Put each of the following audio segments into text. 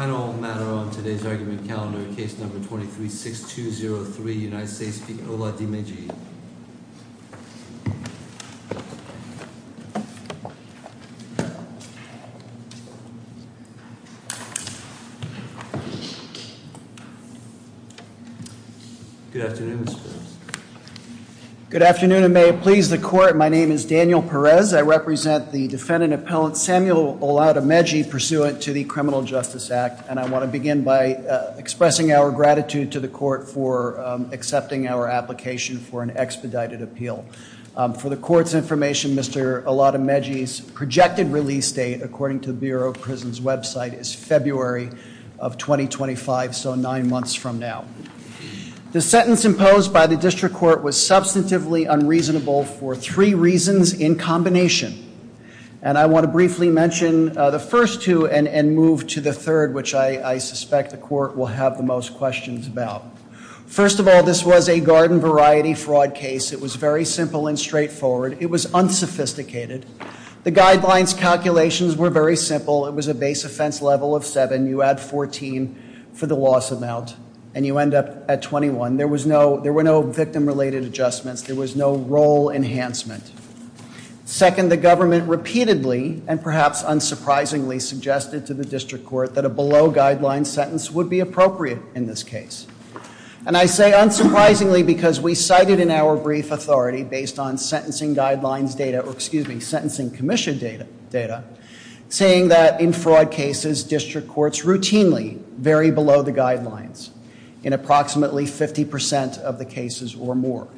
Final matter on today's argument calendar, case number 23-6203, United States v. Oladimeji. Good afternoon, Mr. Phillips. Good afternoon, and may it please the court, my name is Daniel Perez. I represent the defendant and appellant Samuel Oladimeji, pursuant to the Criminal Justice Act, and I want to begin by expressing our gratitude to the court for accepting our application for an expedited appeal. For the court's information, Mr. Oladimeji's projected release date, according to the Bureau of Prisons website, is February of 2025, so nine months from now. The sentence imposed by the district court was substantively unreasonable for three reasons in combination, and I want to briefly mention the first two and move to the third, which I suspect the court will have the most questions about. First of all, this was a garden variety fraud case. It was very simple and straightforward. It was unsophisticated. The guidelines calculations were very simple. It was a base offense level of seven. You add 14 for the loss amount, and you end up at 21. There were no victim-related adjustments. There was no role enhancement. Second, the government repeatedly, and perhaps unsurprisingly, suggested to the district court that a below-guideline sentence would be appropriate in this case, and I say unsurprisingly because we cited in our brief authority, based on sentencing guidelines data, or excuse me, sentencing commission data, saying that in fraud cases, district courts routinely vary below the guidelines in approximately 50% of the cases or more,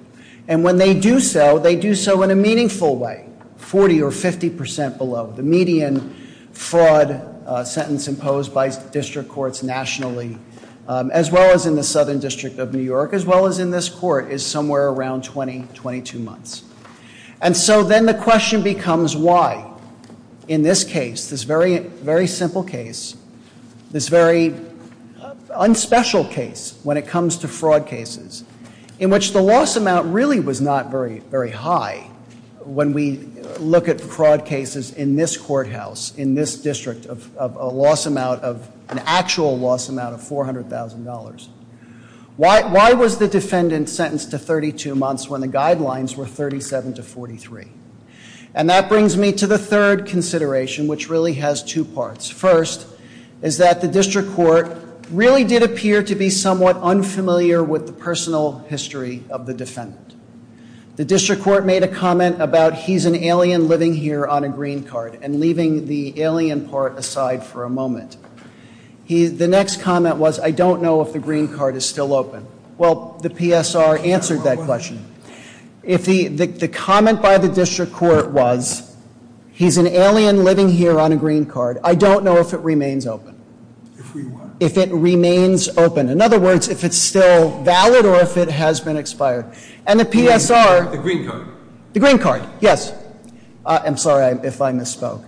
and when they do so, they do so in a meaningful way, 40% or 50% below. The median fraud sentence imposed by district courts nationally, as well as in the Southern District of New York, as well as in this court, is somewhere around 20, 22 months, and so then the question becomes why, in this case, this very simple case, this very unspecial case, when it comes to fraud cases, in which the loss amount really was not very high, when we look at fraud cases in this courthouse, in this district, of a loss amount of, an actual loss amount of $400,000. Why was the defendant sentenced to 32 months when the guidelines were 37 to 43? And that brings me to the third consideration, which really has two parts. First, is that the district court really did appear to be somewhat unfamiliar with the personal history of the defendant. The district court made a comment about, he's an alien living here on a green card, and leaving the alien part aside for a moment. The next comment was, I don't know if the green card is still open. Well, the PSR answered that question. The comment by the district court was, he's an alien living here on a green card. I don't know if it remains open. If it remains open. In other words, if it's still valid or if it has been expired. And the PSR. The green card. The green card, yes. I'm sorry if I misspoke.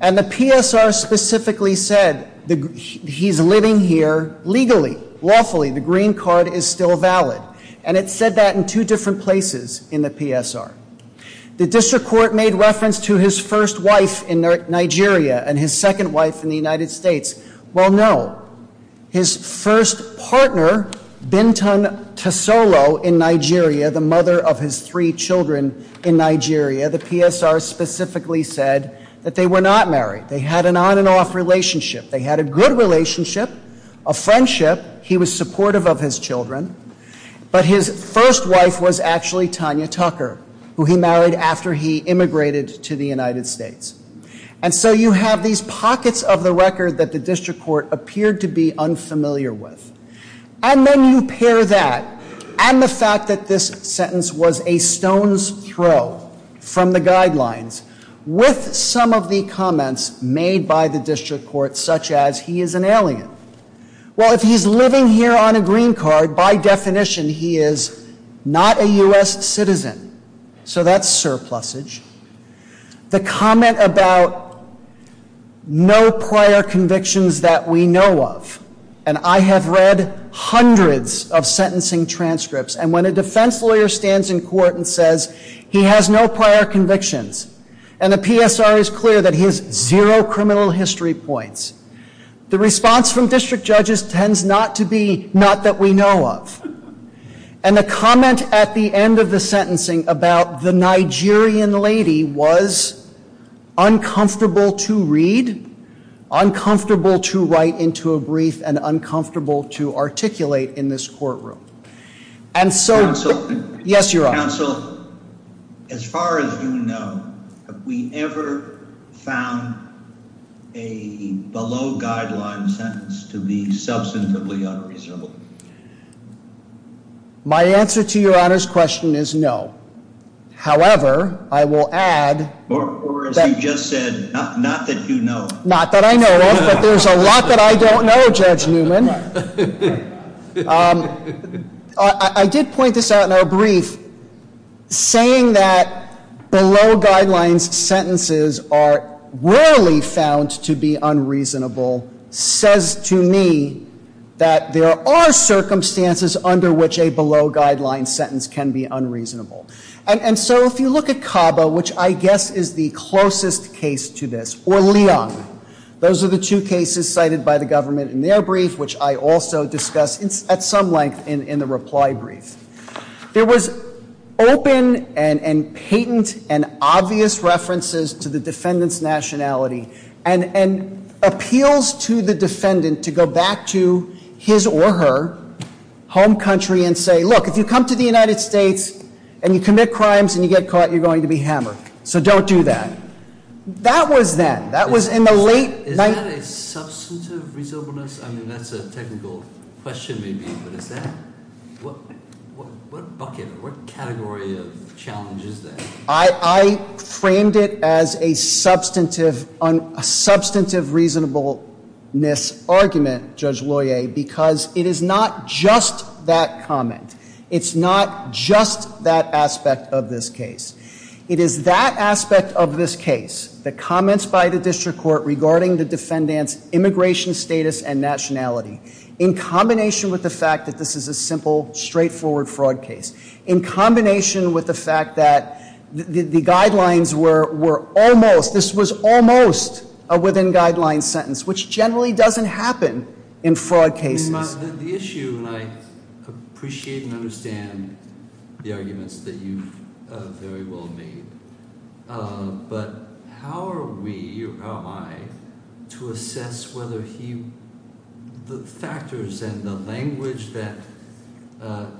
And the PSR specifically said he's living here legally, lawfully, the green card is still valid. And it said that in two different places in the PSR. The district court made reference to his first wife in Nigeria and his second wife in the United States. Well, no. His first partner, Bintan Tasolo in Nigeria, the mother of his three children in Nigeria, the PSR specifically said that they were not married. They had an on and off relationship. They had a good relationship. And his wife was actually Tanya Tucker, who he married after he immigrated to the United States. And so you have these pockets of the record that the district court appeared to be unfamiliar with. And then you pair that and the fact that this sentence was a stone's throw from the guidelines with some of the comments made by the district court, such as he is an alien. Well, if he's living here on a green card, by definition he is not a U.S. citizen. So that's surplusage. The comment about no prior convictions that we know of. And I have read hundreds of sentencing transcripts. And when a defense lawyer stands in court and says he has no prior convictions and the PSR is clear that he has zero criminal history points, the response from district judges tends not to be not that we know of. And the comment at the end of the sentencing about the Nigerian lady was uncomfortable to read, uncomfortable to write into a brief, and uncomfortable to articulate in this courtroom. And so, yes, Your Honor. Counsel, as far as you know, have we ever found a below guideline sentence to be substantively unreasonable? My answer to Your Honor's question is no. However, I will add... Or as you just said, not that you know of. Not that I know of, but there's a lot that I don't know, Judge Newman. I did point this out in our brief. Saying that below guidelines sentences are rarely found to be unreasonable says to me that there are circumstances under which a below guidelines sentence can be unreasonable. And so if you look at CABA, which I guess is the closest case to this, or Leung, those are the two cases cited by the government in their brief, which I also discussed at some length in the reply brief. There was open and patent and obvious references to the defendant's nationality and appeals to the defendant to go back to his or her home country and say, look, if you come to the United States and you commit crimes and you get caught, you're going to be hammered. So don't do that. That was then. That was in the late... Is that a substantive reasonableness? I mean, that's a technical question, maybe, but is that... What bucket, what category of challenge is that? I framed it as a substantive reasonableness argument, Judge Loyer, because it is not just that comment. It's not just that aspect of this case. It is that aspect of this case, the comments by the district court regarding the defendant's immigration status and nationality, in combination with the fact that this is a simple, straightforward fraud case, in combination with the fact that the guidelines were almost, this was almost a within guidelines sentence, which generally doesn't happen in fraud cases. The issue, and I appreciate and understand the arguments that you've very well made, but how are we, or how am I, to assess whether he, the factors and the language that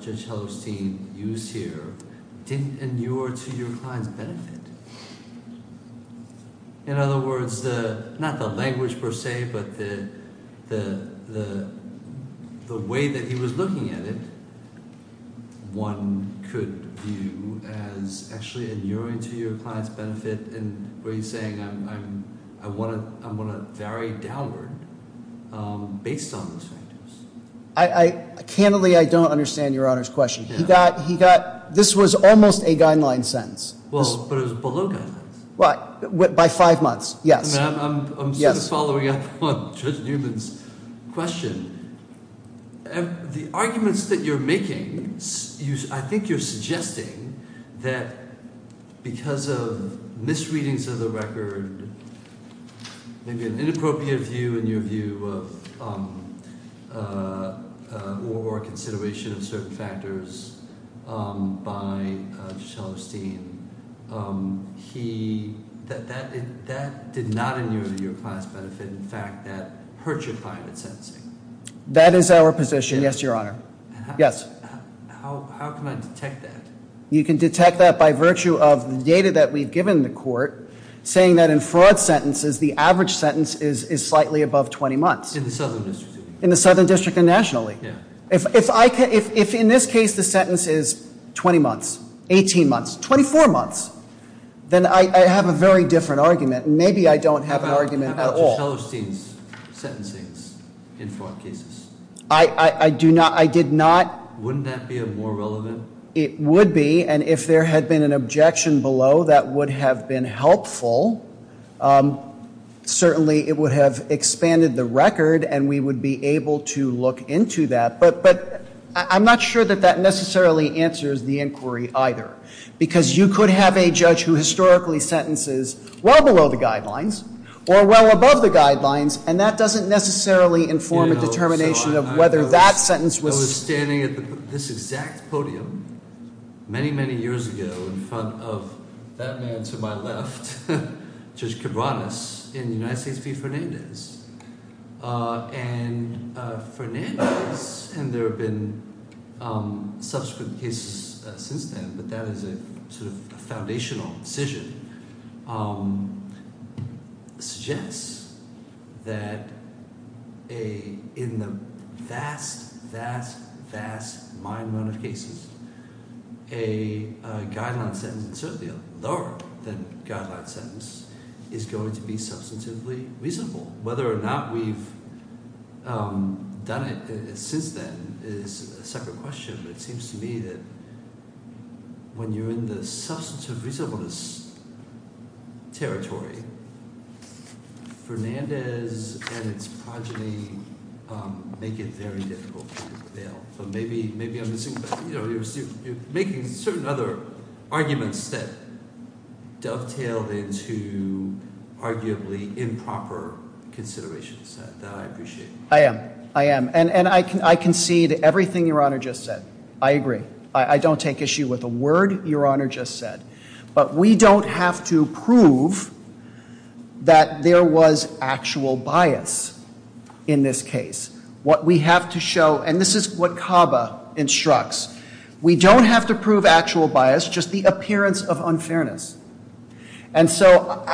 Judge Hellerstein used here didn't inure to your client's benefit? In other words, not the way that he was looking at it, one could view as actually inuring to your client's benefit and were you saying, I want to vary downward based on those factors? I, candidly, I don't understand Your Honor's question. He got, this was almost a guideline sentence. Well, but it was below guidelines. By five months, yes. I'm following up on Judge Newman's question. The arguments that you're making, I think you're suggesting that because of misreadings of the record, maybe an inappropriate view in your view of, or consideration of certain factors by Judge Hellerstein, he, that did not inure to your client's benefit, in fact, that hurt your client in sentencing. That is our position, yes, Your Honor. How can I detect that? You can detect that by virtue of the data that we've given the court, saying that in fraud sentences, the average sentence is slightly above 20 months. In the Southern District. In the Southern District and nationally. If in this case, the sentence is 20 months, 18 months, 24 months, then I have a very different argument. Maybe I don't have an argument at all. How about Judge Hellerstein's sentencing in fraud cases? I do not, I did not. Wouldn't that be more relevant? It would be, and if there had been an objection below, that would have been helpful. Certainly it would have expanded the record and we would be able to look into that, but I'm not sure that that necessarily answers the inquiry either. Because you could have a judge who historically sentences well below the guidelines, or well above the guidelines, and that doesn't necessarily inform a determination of whether that sentence was... I was standing at this exact podium, many, many years ago, in front of that man to my left, Judge Cabranes, in United States v. Fernandez. And Fernandez, and there have been subsequent cases since then, but that is a sort of foundational decision, suggests that in the vast, vast, vast, mind-blowing cases, a guideline sentence, and certainly a lower than guideline sentence, is going to be substantively reasonable. Whether or not we've done it since then is a separate question, but it seems to me that when you're in the substantive reasonableness territory, Fernandez and its progeny make it very difficult for you to bail. So maybe I'm missing, you're making certain other arguments that dovetail into arguably improper considerations. That I appreciate. I am. I am. And I concede everything Your Honor just said. I agree. I don't take issue with a word Your Honor just said. But we don't have to prove that there was actual bias in this case. What we have to show, and this is what CABA instructs, we don't have to prove actual bias, just the appearance of unfairness. And so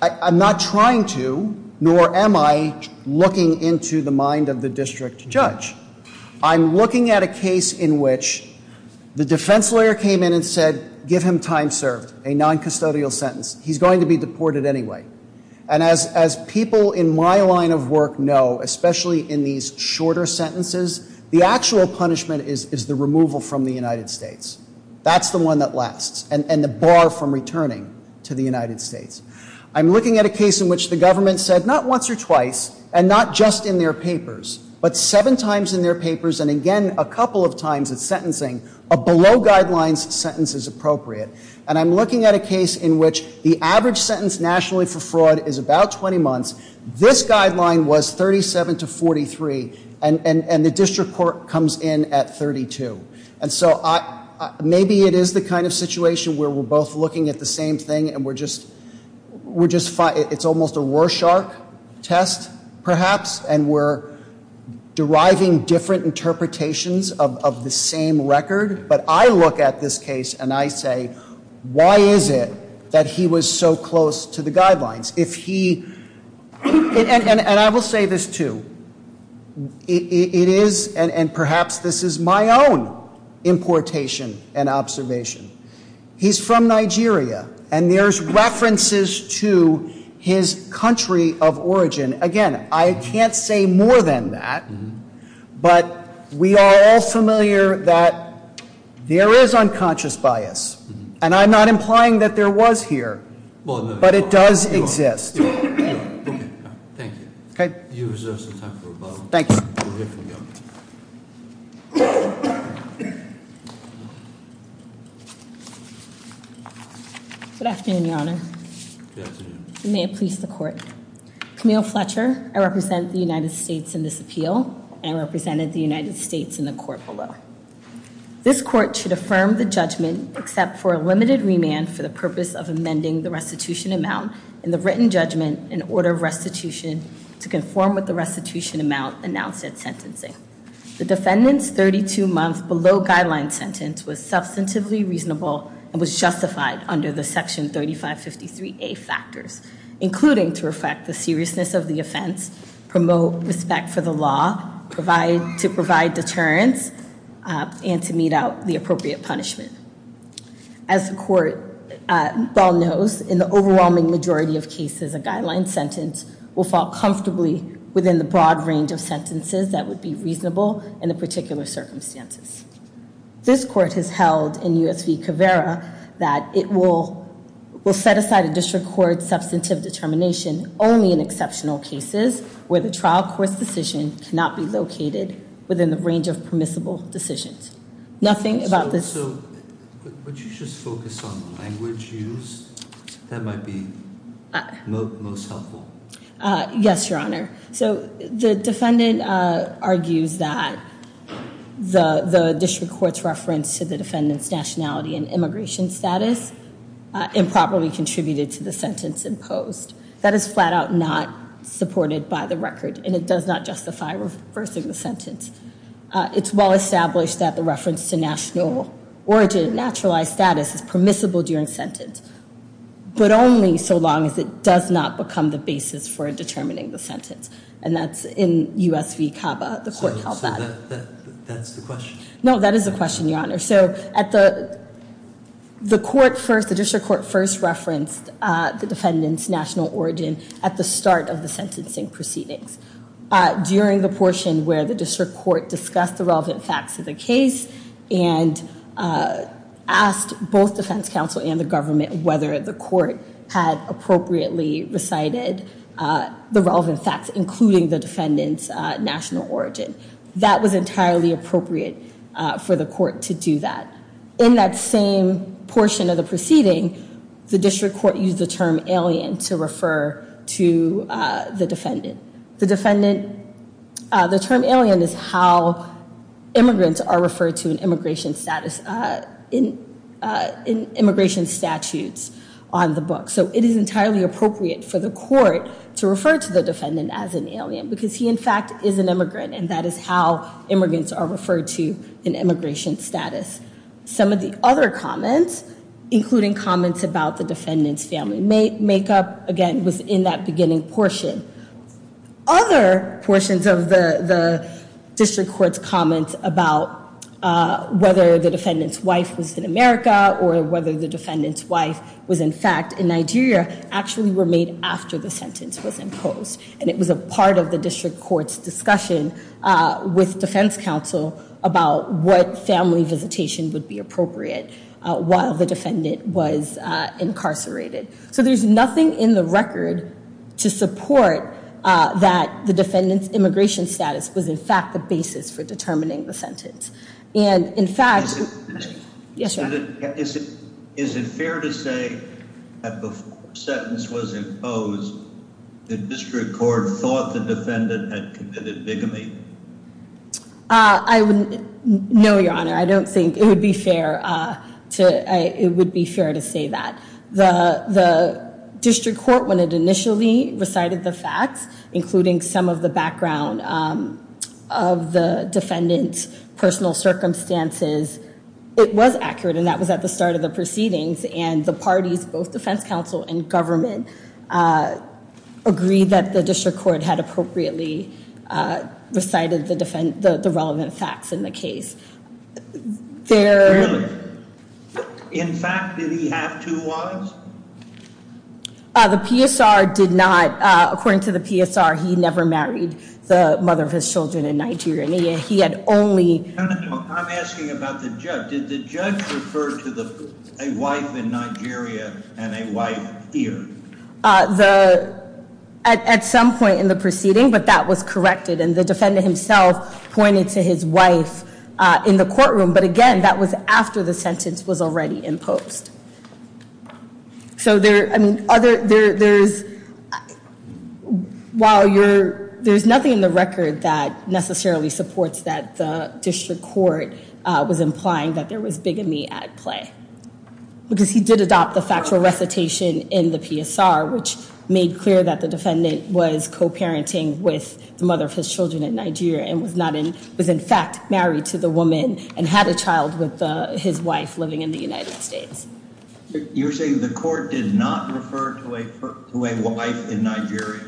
I'm not trying to, nor am I looking into the mind of the district judge. I'm looking at a case in which the defense lawyer came in and said, give him time served, a non-custodial sentence. He's going to be deported anyway. And as people in my line of work know, especially in these shorter sentences, the actual punishment is the removal from the United States. That's the one that lasts. And the bar from returning to the United States. I'm looking at a case in which the government said, not once or twice, just in their papers, but seven times in their papers, and again, a couple of times at sentencing, a below guidelines sentence is appropriate. And I'm looking at a case in which the average sentence nationally for fraud is about 20 months. This guideline was 37 to 43. And the district court comes in at 32. And so maybe it is the kind of situation where we're both looking at the same thing and we're just, we're just, it's almost a false, and we're deriving different interpretations of the same record. But I look at this case and I say, why is it that he was so close to the guidelines? If he, and I will say this too, it is, and perhaps this is my own importation and observation. He's from Nigeria. And there's a, I'd say more than that, but we are all familiar that there is unconscious bias. And I'm not implying that there was here, but it does exist. Thank you. You reserve some time for rebuttal. Thank you. We'll hear from you. Good afternoon, Your Honor. Good afternoon. May it please the court. Camille Fletcher, I represent the United States in this appeal. I represented the United States in the court below. This court should affirm the judgment, except for a limited remand for the purpose of amending the restitution amount in the written judgment in order of restitution to conform with the restitution amount announced at sentencing. The defendant's 32-month below guideline sentence was substantively reasonable and was justified under the Section 3553A factors, including to reflect the seriousness of the offense, promote respect for the law, to provide deterrence, and to mete out the appropriate punishment. As the court well knows, in the overwhelming majority of cases, a guideline sentence will fall comfortably within the broad range of sentences that would be reasonable in the particular circumstances. This court has held in U.S. v. Caveira that it will set aside a district court's substantive determination only in exceptional cases where the trial court's decision cannot be located within the range of permissible decisions. Nothing about this... So, would you just focus on language used? That might be most helpful. Yes, Your Honor. So, the defendant argues that the district court's reference to the defendant's nationality and immigration status improperly contributed to the sentence imposed. That is flat out not supported by the record, and it does not justify reversing the sentence. It's well established that the reference to national origin and naturalized status is permissible during sentence, but only so long as it does not become the basis for determining the sentence. And that's in U.S. v. Cava, the court held that. So, that's the question? No, that is the question, Your Honor. So, at the court first, the district court first referenced the defendant's national origin at the start of the sentencing proceedings. During the portion where the district court discussed the relevant facts of the case and asked both defense counsel and the government whether the court had appropriately recited the relevant facts, including the defendant's national origin. That was entirely appropriate for the court to do that. In that same portion of the proceeding, the district court used the term alien to refer to the defendant. The defendant, the term alien is how immigrants are referred to in immigration status, in immigration statutes on the book. So, it is entirely appropriate for the court to refer to the defendant as an alien, because he in fact is an immigrant, and that is how immigrants are referred to in immigration status. Some of the other comments, including comments about the defendant's family makeup, again, was in that beginning portion. Other portions of the district court's comments about whether the defendant's wife was in America, or whether the defendant's wife was in fact in Nigeria, actually were made after the sentence was imposed. And it was a part of the district court's discussion with defense counsel about what family visitation would be appropriate while the defendant was incarcerated. So, there's nothing in the record to support that the defendant's immigration status was in fact the basis for determining the sentence. And in fact... Is it fair to say that before the sentence was imposed, the district court thought the defendant had committed bigamy? No, Your Honor. I don't think it would be fair to say that. The district court, when it initially recited the facts, including some of the background of the defendant's personal circumstances, it was accurate, and that was at the start of the proceedings. And the parties, both defense counsel and government, agreed that the district court had appropriately recited the relevant facts in the case. Really? In fact, did he have two wives? The PSR did not. According to the PSR, he never married the mother of his children in Nigeria. He had only... I'm asking about the judge. Did the judge refer to a wife in Nigeria and a wife here? At some point in the proceeding, but that was corrected, and the defendant himself pointed to his wife in the courtroom. But again, that was after the sentence was already imposed. There's nothing in the record that necessarily supports that the district court was implying that there was bigamy at play. Because he did adopt the factual recitation in the PSR, which made clear that the defendant was co-parenting with the mother of his children in Nigeria and was in fact married to the woman and had a child with his wife living in the United States. You're saying the court did not refer to a wife in Nigeria?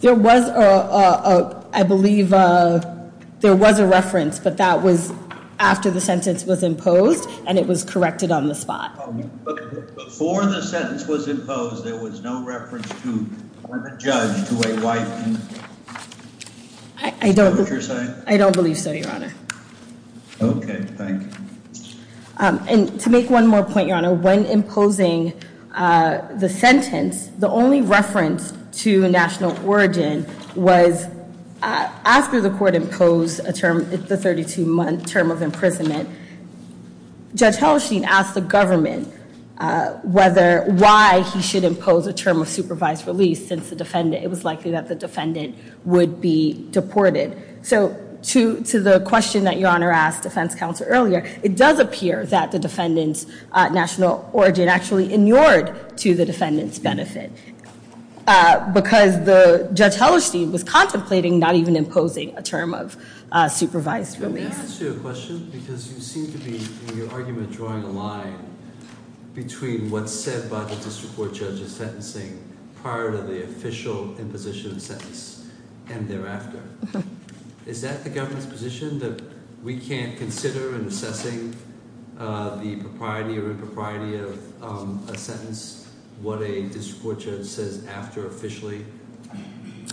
There was, I believe, there was a reference, but that was after the sentence was imposed and it was corrected on the spot. Before the sentence was imposed, there was no reference to a judge to a wife? I don't believe so, Your Honor. Okay, thank you. And to make one more point, Your Honor, when imposing the sentence, the only reference to national origin was after the court imposed a term, the 32-month term of imprisonment, Judge Hellerstein asked the government why he should impose a term of supervised release since it was likely that the defendant would be deported. So to the question that Your Honor asked defense counsel earlier, it does appear that the defendant's national origin actually inured to the defendant's benefit because Judge Hellerstein was contemplating not even imposing a term of supervised release. May I ask you a question? Because you seem to be, in your argument, drawing a line between what's said by the district court judge in sentencing prior to the official imposition of sentence and thereafter. Is that the government's position that we can't consider in assessing the propriety or impropriety of a sentence what a district court judge says after officially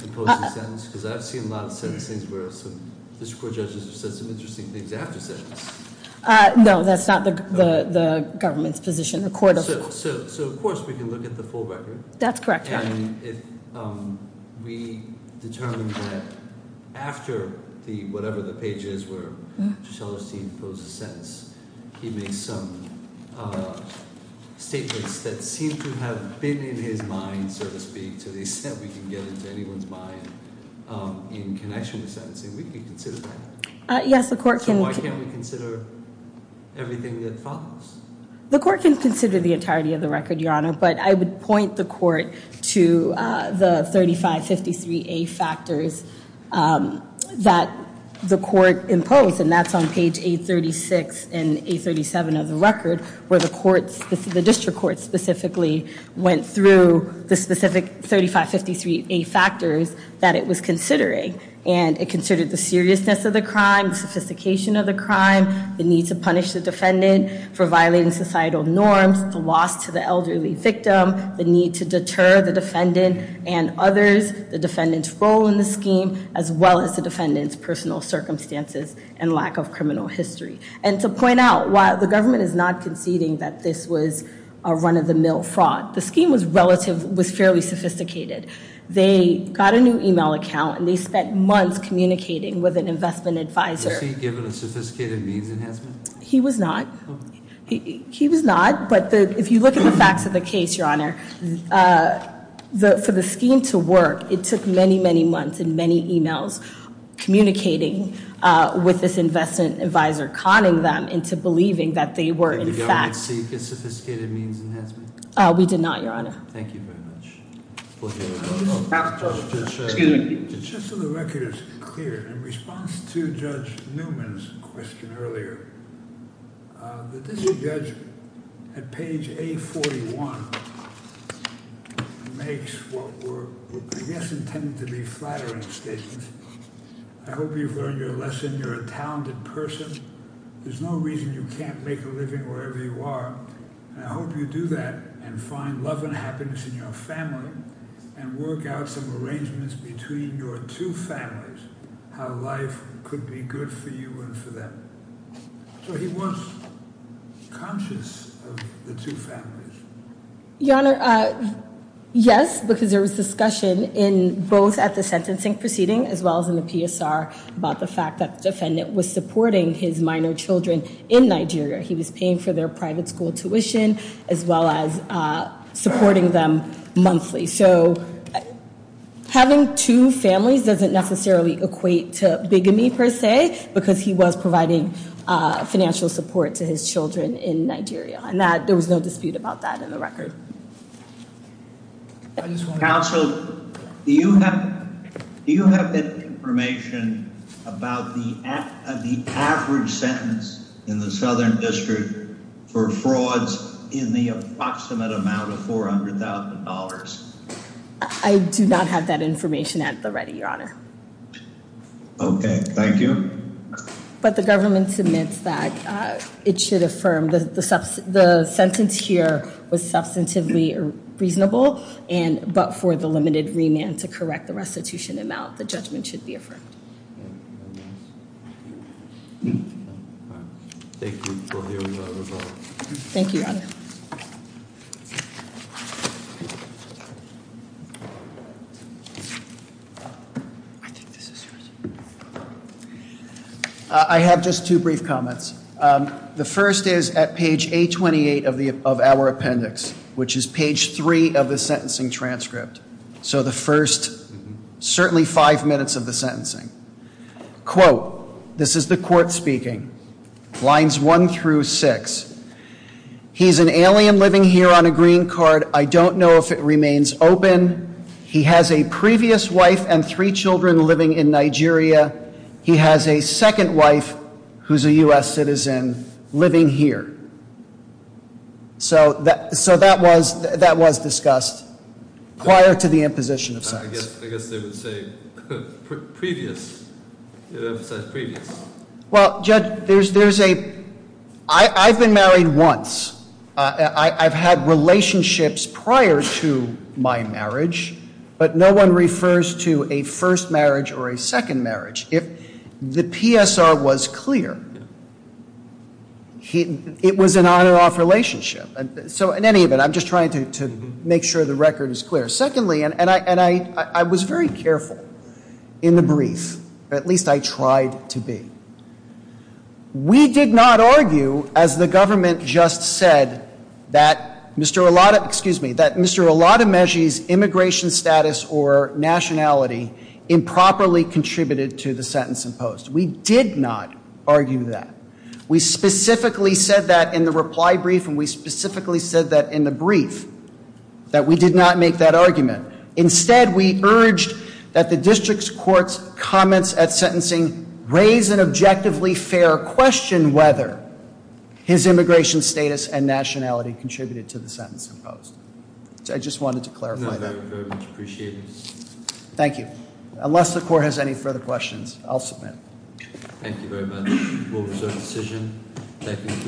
imposing a sentence? Because I've seen a lot of sentencing where district court judges have said some interesting things after sentence. No, that's not the government's position. So of course we can look at the full record. That's correct, Your Honor. We determine that after whatever the page is where Judge Hellerstein imposed the sentence, he made some statements that seem to have been in his mind, so to speak, so he said we can get into anyone's mind in connection with sentencing. We can consider that. So why can't we consider everything that follows? The court can consider the entirety of the record, Your Honor, but I would point the court to the 3553A factors that the court imposed, and that's on page 836 and 837 of the record where the district court specifically went through the specific 3553A factors that it was considering. And it considered the seriousness of the crime, sophistication of the crime, the need to punish the defendant for violating societal norms, the loss to the elderly victim, the need to deter the defendant and others, the defendant's role in the scheme, as well as the defendant's personal circumstances and lack of criminal history. And to point out, while the government is not conceding that this was a run-of-the-mill fraud, the scheme was relative, was fairly sophisticated. They got a new email account and they spent months communicating with an investment advisor. Was he given a sophisticated means enhancement? He was not. He was not, but if you look at the facts of the case, Your Honor, for the scheme to work, it took many, many months and many emails communicating with this investment advisor, conning them into believing that they were in fact... Did the government seek a sophisticated means enhancement? We did not, Your Honor. Thank you very much. Just so the record is clear, in response to Judge Newman's question earlier, the district judge at page 841 makes what were, I guess, intended to be flattering statements. I hope you've learned your lesson. You're a talented person. There's no reason you can't make a living wherever you are. I hope you do that and find love and happiness in your family and work out some arrangements between your two families, how life could be good for you and for them. So he was conscious of the two families. Your Honor, yes, because there was discussion in both at the sentencing proceeding as well as in the PSR about the fact that the defendant was supporting his minor children in Nigeria. He was paying for their private school tuition as well as supporting them monthly. Having two families doesn't necessarily equate to bigamy, per se, because he was providing financial support to his children in Nigeria. There was no dispute about that in the record. Counsel, do you have information about the average sentence in the Southern District for frauds in the approximate amount of $400,000? I do not have that information at the ready, Your Honor. Okay, thank you. But the government submits that it should affirm, the sentence here was substantively reasonable, but for the limited remand to correct the restitution amount, the judgment should be affirmed. Thank you, Your Honor. Thank you, Your Honor. I think this is yours. I have just two brief comments. The first is at page 828 of our appendix, which is page 3 of the sentencing transcript. So the first certainly five minutes of the sentence. He's an alien living here on a green card. I don't know if it remains open. He has a previous wife and three children living in Nigeria. He has a second wife who's a U.S. citizen living here. So that was discussed prior to the imposition of sentence. I guess they would say previous. Well, Judge, I've been married once. I've had relationships prior to my marriage, but no one refers to a first marriage or a second marriage. If the PSR was clear, it was an on or off relationship. So in any event, I'm just trying to make sure the record is clear. Secondly, and I was very careful in the brief. At least I tried to be. We did not argue, as the government just said, that Mr. Olatomeji's immigration status or nationality improperly contributed to the sentence imposed. We did not argue in the brief that we did not make that argument. Instead, we urged that the district's court's comments at sentencing raise an objectively fair question whether his immigration status and nationality contributed to the sentence imposed. I just wanted to clarify that. Thank you. Unless the court has any further questions, I'll submit.